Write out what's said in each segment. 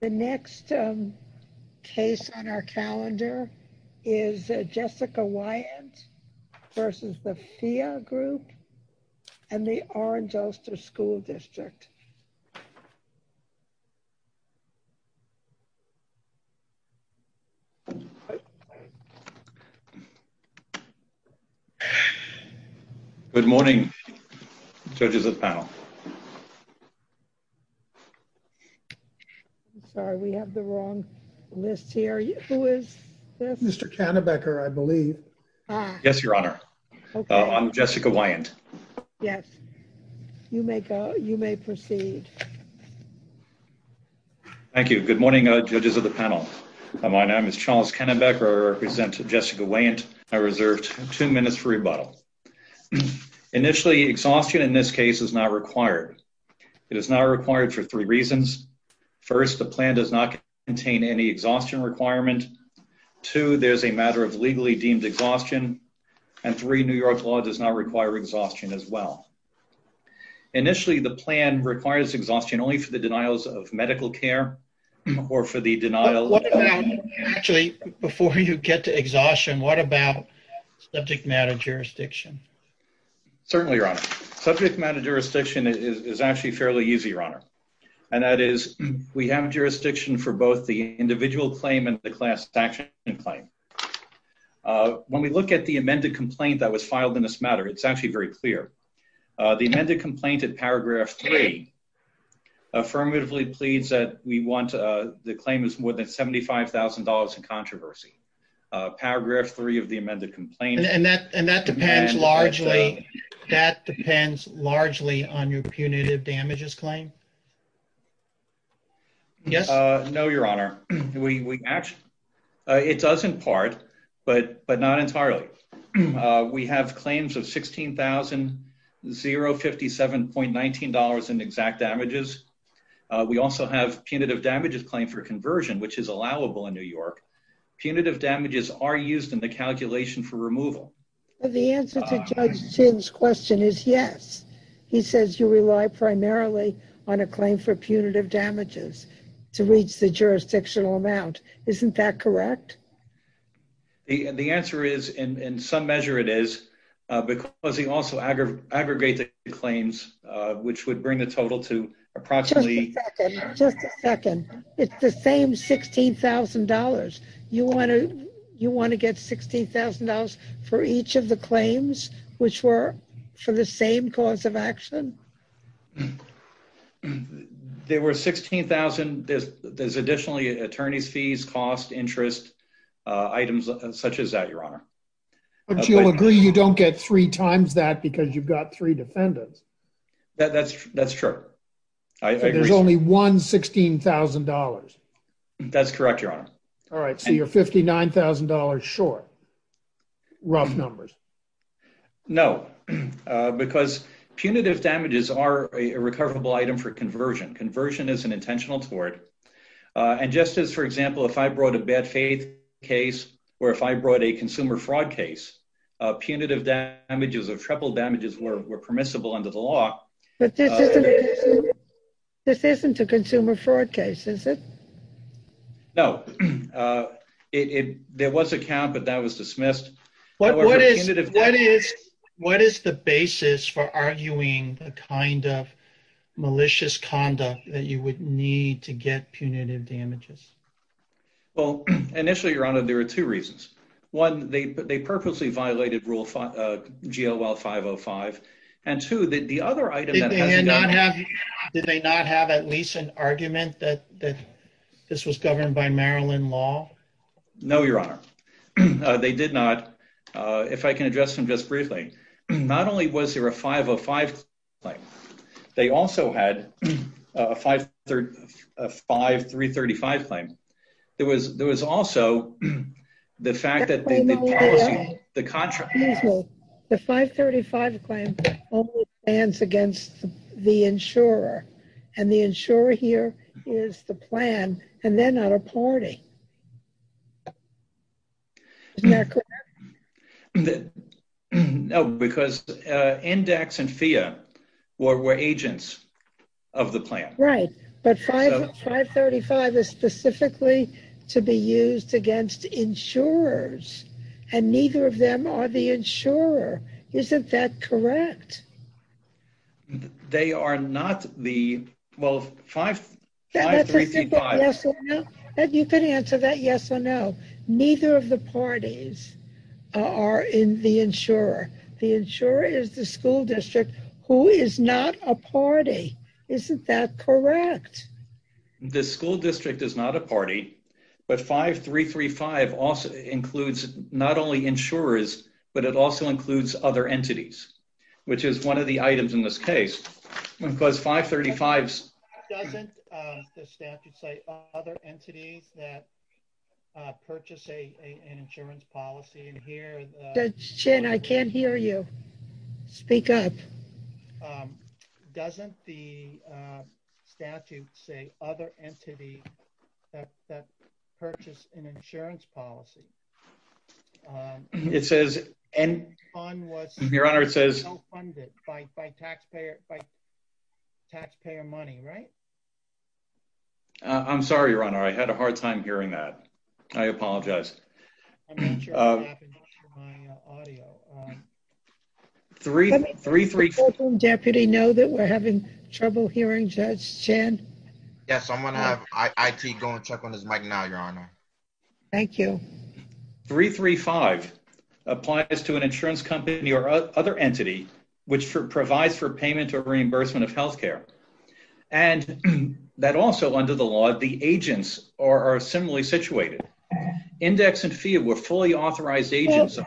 The next case on our calendar is Jessica Weyant v. The Phia Group and the Orange-Ulster School District. Good morning, judges of the panel. Sorry, we have the wrong list here. Who is this? Mr. Kannebecker, I believe. Yes, Your Honor. I'm Jessica Weyant. Yes, you may proceed. Thank you. Good morning, judges of the panel. My name is Charles Kannebecker. I represent Jessica Weyant. I reserved two minutes for rebuttal. Initially, exhaustion in this case is not required. It is not required for three reasons. First, the plan does not contain any exhaustion requirement. Two, there's a matter of legally deemed exhaustion. And three, New York law does not require exhaustion as well. Initially, the plan requires exhaustion only for the denials of medical care or for the denial Actually, before you get to exhaustion. What about subject matter jurisdiction? Certainly, Your Honor. Subject matter jurisdiction is actually fairly easy, Your Honor. And that is, we have jurisdiction for both the individual claim and the class action claim. When we look at the amended complaint that was filed in this matter, it's actually very clear. The amended complaint in paragraph three affirmatively pleads that the claim is more than $75,000 in controversy. Paragraph three of the amended complaint And that depends largely on your punitive damages claim? Yes. No, Your Honor. We actually, it does in part, but not entirely. We have claims of $16,057.19 in exact damages. We also have punitive damages claim for conversion, which is allowable in New York. Punitive damages are used in the calculation for removal. The answer to Judge Chin's question is yes. He says you rely primarily on a claim for punitive damages to reach the jurisdictional amount. Isn't that correct? The answer is, in some measure it is, because he also aggregates the claims, which would bring the total to approximately Just a second. It's the same $16,000. You want to get $16,000 for each of the claims, which were for the same cause of action? There were $16,000. There's additionally attorney's fees, cost, interest, items such as that, Your Honor. But you'll agree you don't get three times that because you've got three defendants. That's true. There's only one $16,000. That's correct, Your Honor. All right, so you're $59,000 short. Rough numbers. No, because punitive damages are a recoverable item for conversion. Conversion is an intentional tort. And just as, for example, if I brought a bad faith case or if I brought a consumer fraud case, punitive damages or triple damages were permissible under the law. This isn't a consumer fraud case, is it? No, there was a count, but that was dismissed. What is the basis for arguing the kind of malicious conduct that you would need to get punitive damages? Well, initially, Your Honor, there are two reasons. One, they purposely violated rule GL-505. And two, the other item that has to go... Did they not have at least an argument that this was governed by Maryland law? No, Your Honor. They did not. If I can address them just briefly, not only was there a 505 claim, they also had a 535 claim. There was also the fact that they did policy... The 535 claim only stands against the insurer, and the insurer here is the plan, and they're not a party. Is that correct? No, because NDACs and FEA were agents of the plan. Right, but 535 is specifically to be used against insurers, and neither of them are the insurer. Isn't that correct? They are not the... Well, 535... You can answer that yes or no. Neither of the parties are in the insurer. The insurer is the school district, who is not a party. Isn't that correct? The school district is not a party, but 535 also includes not only insurers, but it also includes other entities, which is one of the items in this case, because 535's... ...that purchase an insurance policy, and here... Jim, I can't hear you. Speak up. Doesn't the statute say other entity that purchase an insurance policy? It says... Your Honor, it says... ...by taxpayer money, right? I'm sorry, Your Honor. I had a hard time hearing that. I apologize. I'm not sure what happened to my audio. 335... Does the courtroom deputy know that we're having trouble hearing Judge Chen? Yes, I'm going to have IT go and check on his mic now, Your Honor. Thank you. 335 applies to an insurance company or other entity, which provides for payment or reimbursement of health care, and that also under the law, the agents are similarly situated. Index and FEA were fully authorized agents.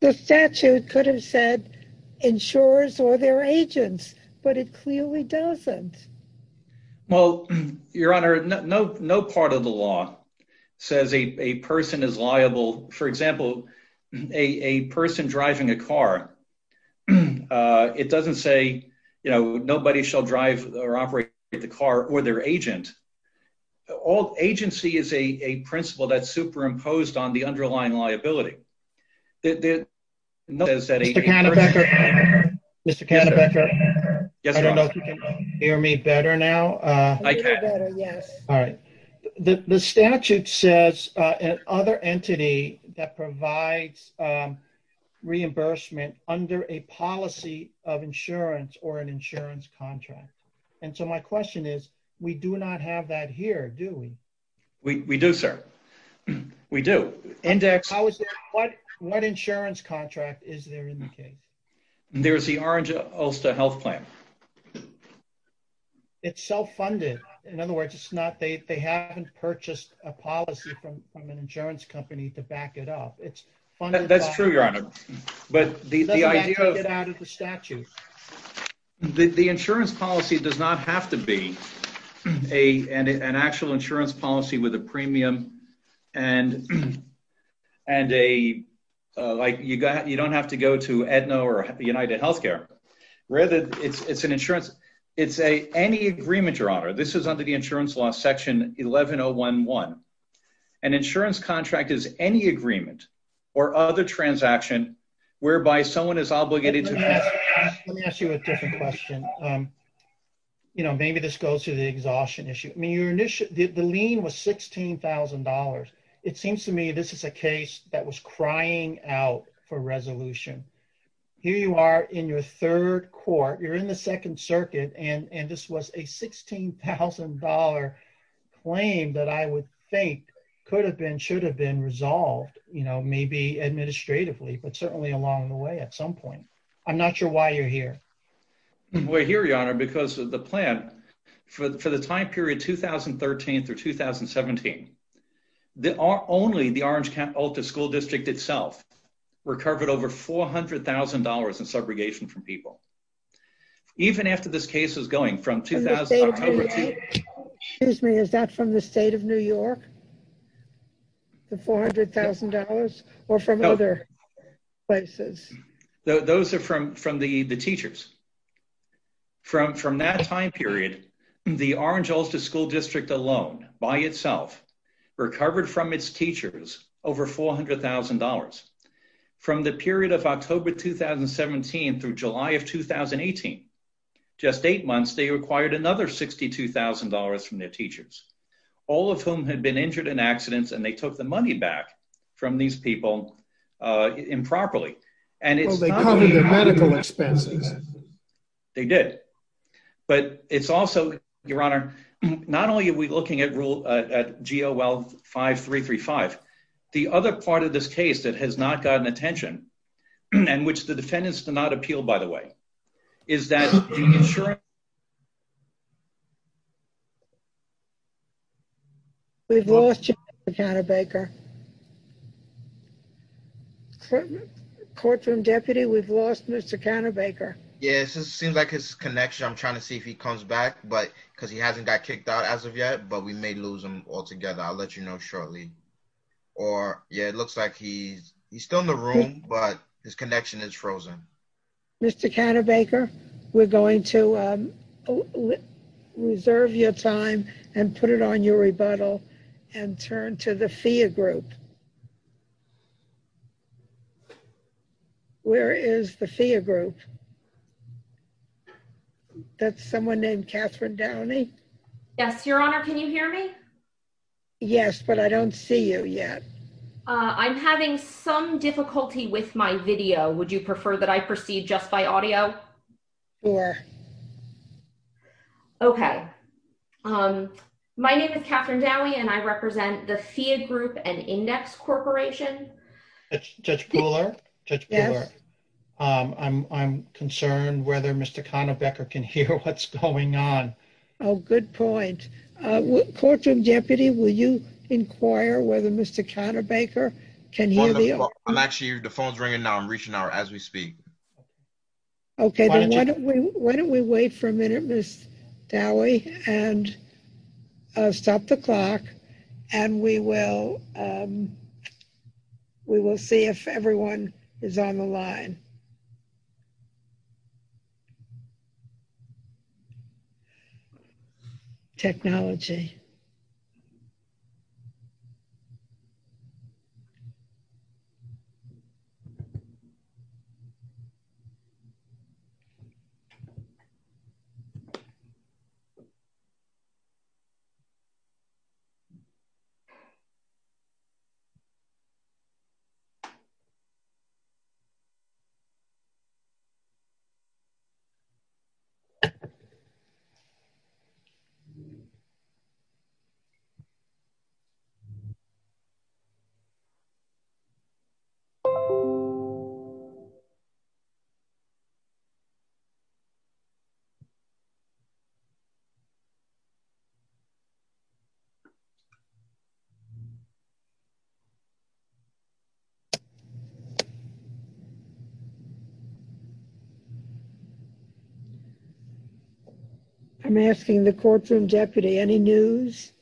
The statute could have said insurers or their agents, but it clearly doesn't. Well, Your Honor, no part of the law says a person is liable. For example, a person driving a car, it doesn't say, you know, nobody shall drive or operate the car or their agent. All agency is a principle that's superimposed on the underlying liability. Mr. Cannabecker, I don't know if you can hear me better now. I can. All right. The statute says an other entity that provides reimbursement under a policy of insurance or an insurance contract. And so my question is, we do not have that here, do we? We do, sir. We do. What insurance contract is there in the case? There's the Orange Ulster Health Plan. It's self-funded. In other words, it's not... They haven't purchased a policy from an insurance company to back it up. It's funded... That's true, Your Honor. But the idea of... Let's take it out of the statute. The insurance policy does not have to be an actual insurance policy with a premium and a... Like, you don't have to go to Aetna or UnitedHealthcare. Rather, it's an insurance... It's any agreement, Your Honor. This is under the insurance law, section 11011. An insurance contract is any agreement or other transaction whereby someone is obligated to... Let me ask you a different question. Maybe this goes to the exhaustion issue. The lien was $16,000. It seems to me this is a case that was crying out for resolution. Here you are in your third court, you're in the Second Circuit, and this was a $16,000 claim that I would think could have been, should have been resolved maybe administratively, but certainly along the way at some point. I'm not sure why you're here. We're here, Your Honor, because of the plan. For the time period 2013 through 2017, only the Orange County Alta School District itself recovered over $400,000 in subrogation from people. Even after this case is going from... Excuse me, is that from the state of New York, the $400,000, or from other places? Those are from the teachers. From that time period, the Orange Alta School District alone by itself recovered from its $400,000. From the period of October 2017 through July of 2018, just eight months, they required another $62,000 from their teachers, all of whom had been injured in accidents, and they took the money back from these people improperly. Well, they covered the medical expenses. They did. But it's also, Your Honor, not only are we looking at GOL 5335, the other part of this case that has not gotten attention, and which the defendants did not appeal, by the way, is that the insurance... We've lost you, Mr. Counterbaker. Courtroom deputy, we've lost Mr. Counterbaker. Yes, it seems like his connection. I'm trying to see if he comes back, because he hasn't got kicked out as of yet, but we may lose him altogether. I'll let you know shortly. Or, yeah, it looks like he's still in the room, but his connection is frozen. Mr. Counterbaker, we're going to reserve your time and put it on your rebuttal and turn to the FEA group. Where is the FEA group? That's someone named Catherine Downey? Yes, Your Honor, can you hear me? Yes, but I don't see you yet. I'm having some difficulty with my video. Would you prefer that I proceed just by audio? Sure. Okay. My name is Catherine Downey, and I represent the FEA group and Index Corporation. Judge Pooler? Yes. I'm concerned whether Mr. Counterbaker can hear what's going on. Oh, good point. Courtroom Deputy, will you inquire whether Mr. Counterbaker can hear me? I'm actually, the phone's ringing now. I'm reaching out as we speak. Okay. Why don't we wait for a minute, Ms. Dowey, and stop the clock, and we will see if everyone is on the line. Technology. I'm asking the courtroom deputy, any news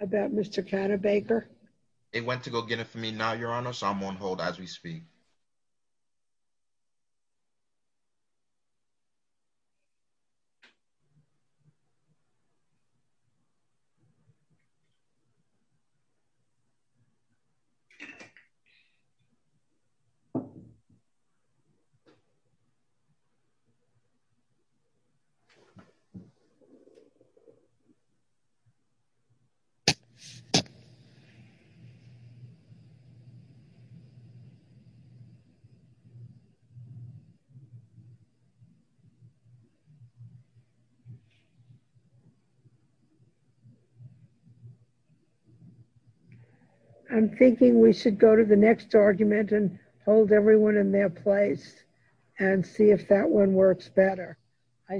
about Mr. Counterbaker? It went to go get it for me now, Your Honor, so I'm on hold as we speak. Okay. Okay. Okay. Okay. Okay. Okay. Okay. Okay. Okay. I'm thinking we should go to the next argument and hold everyone in their place and see if that one works better.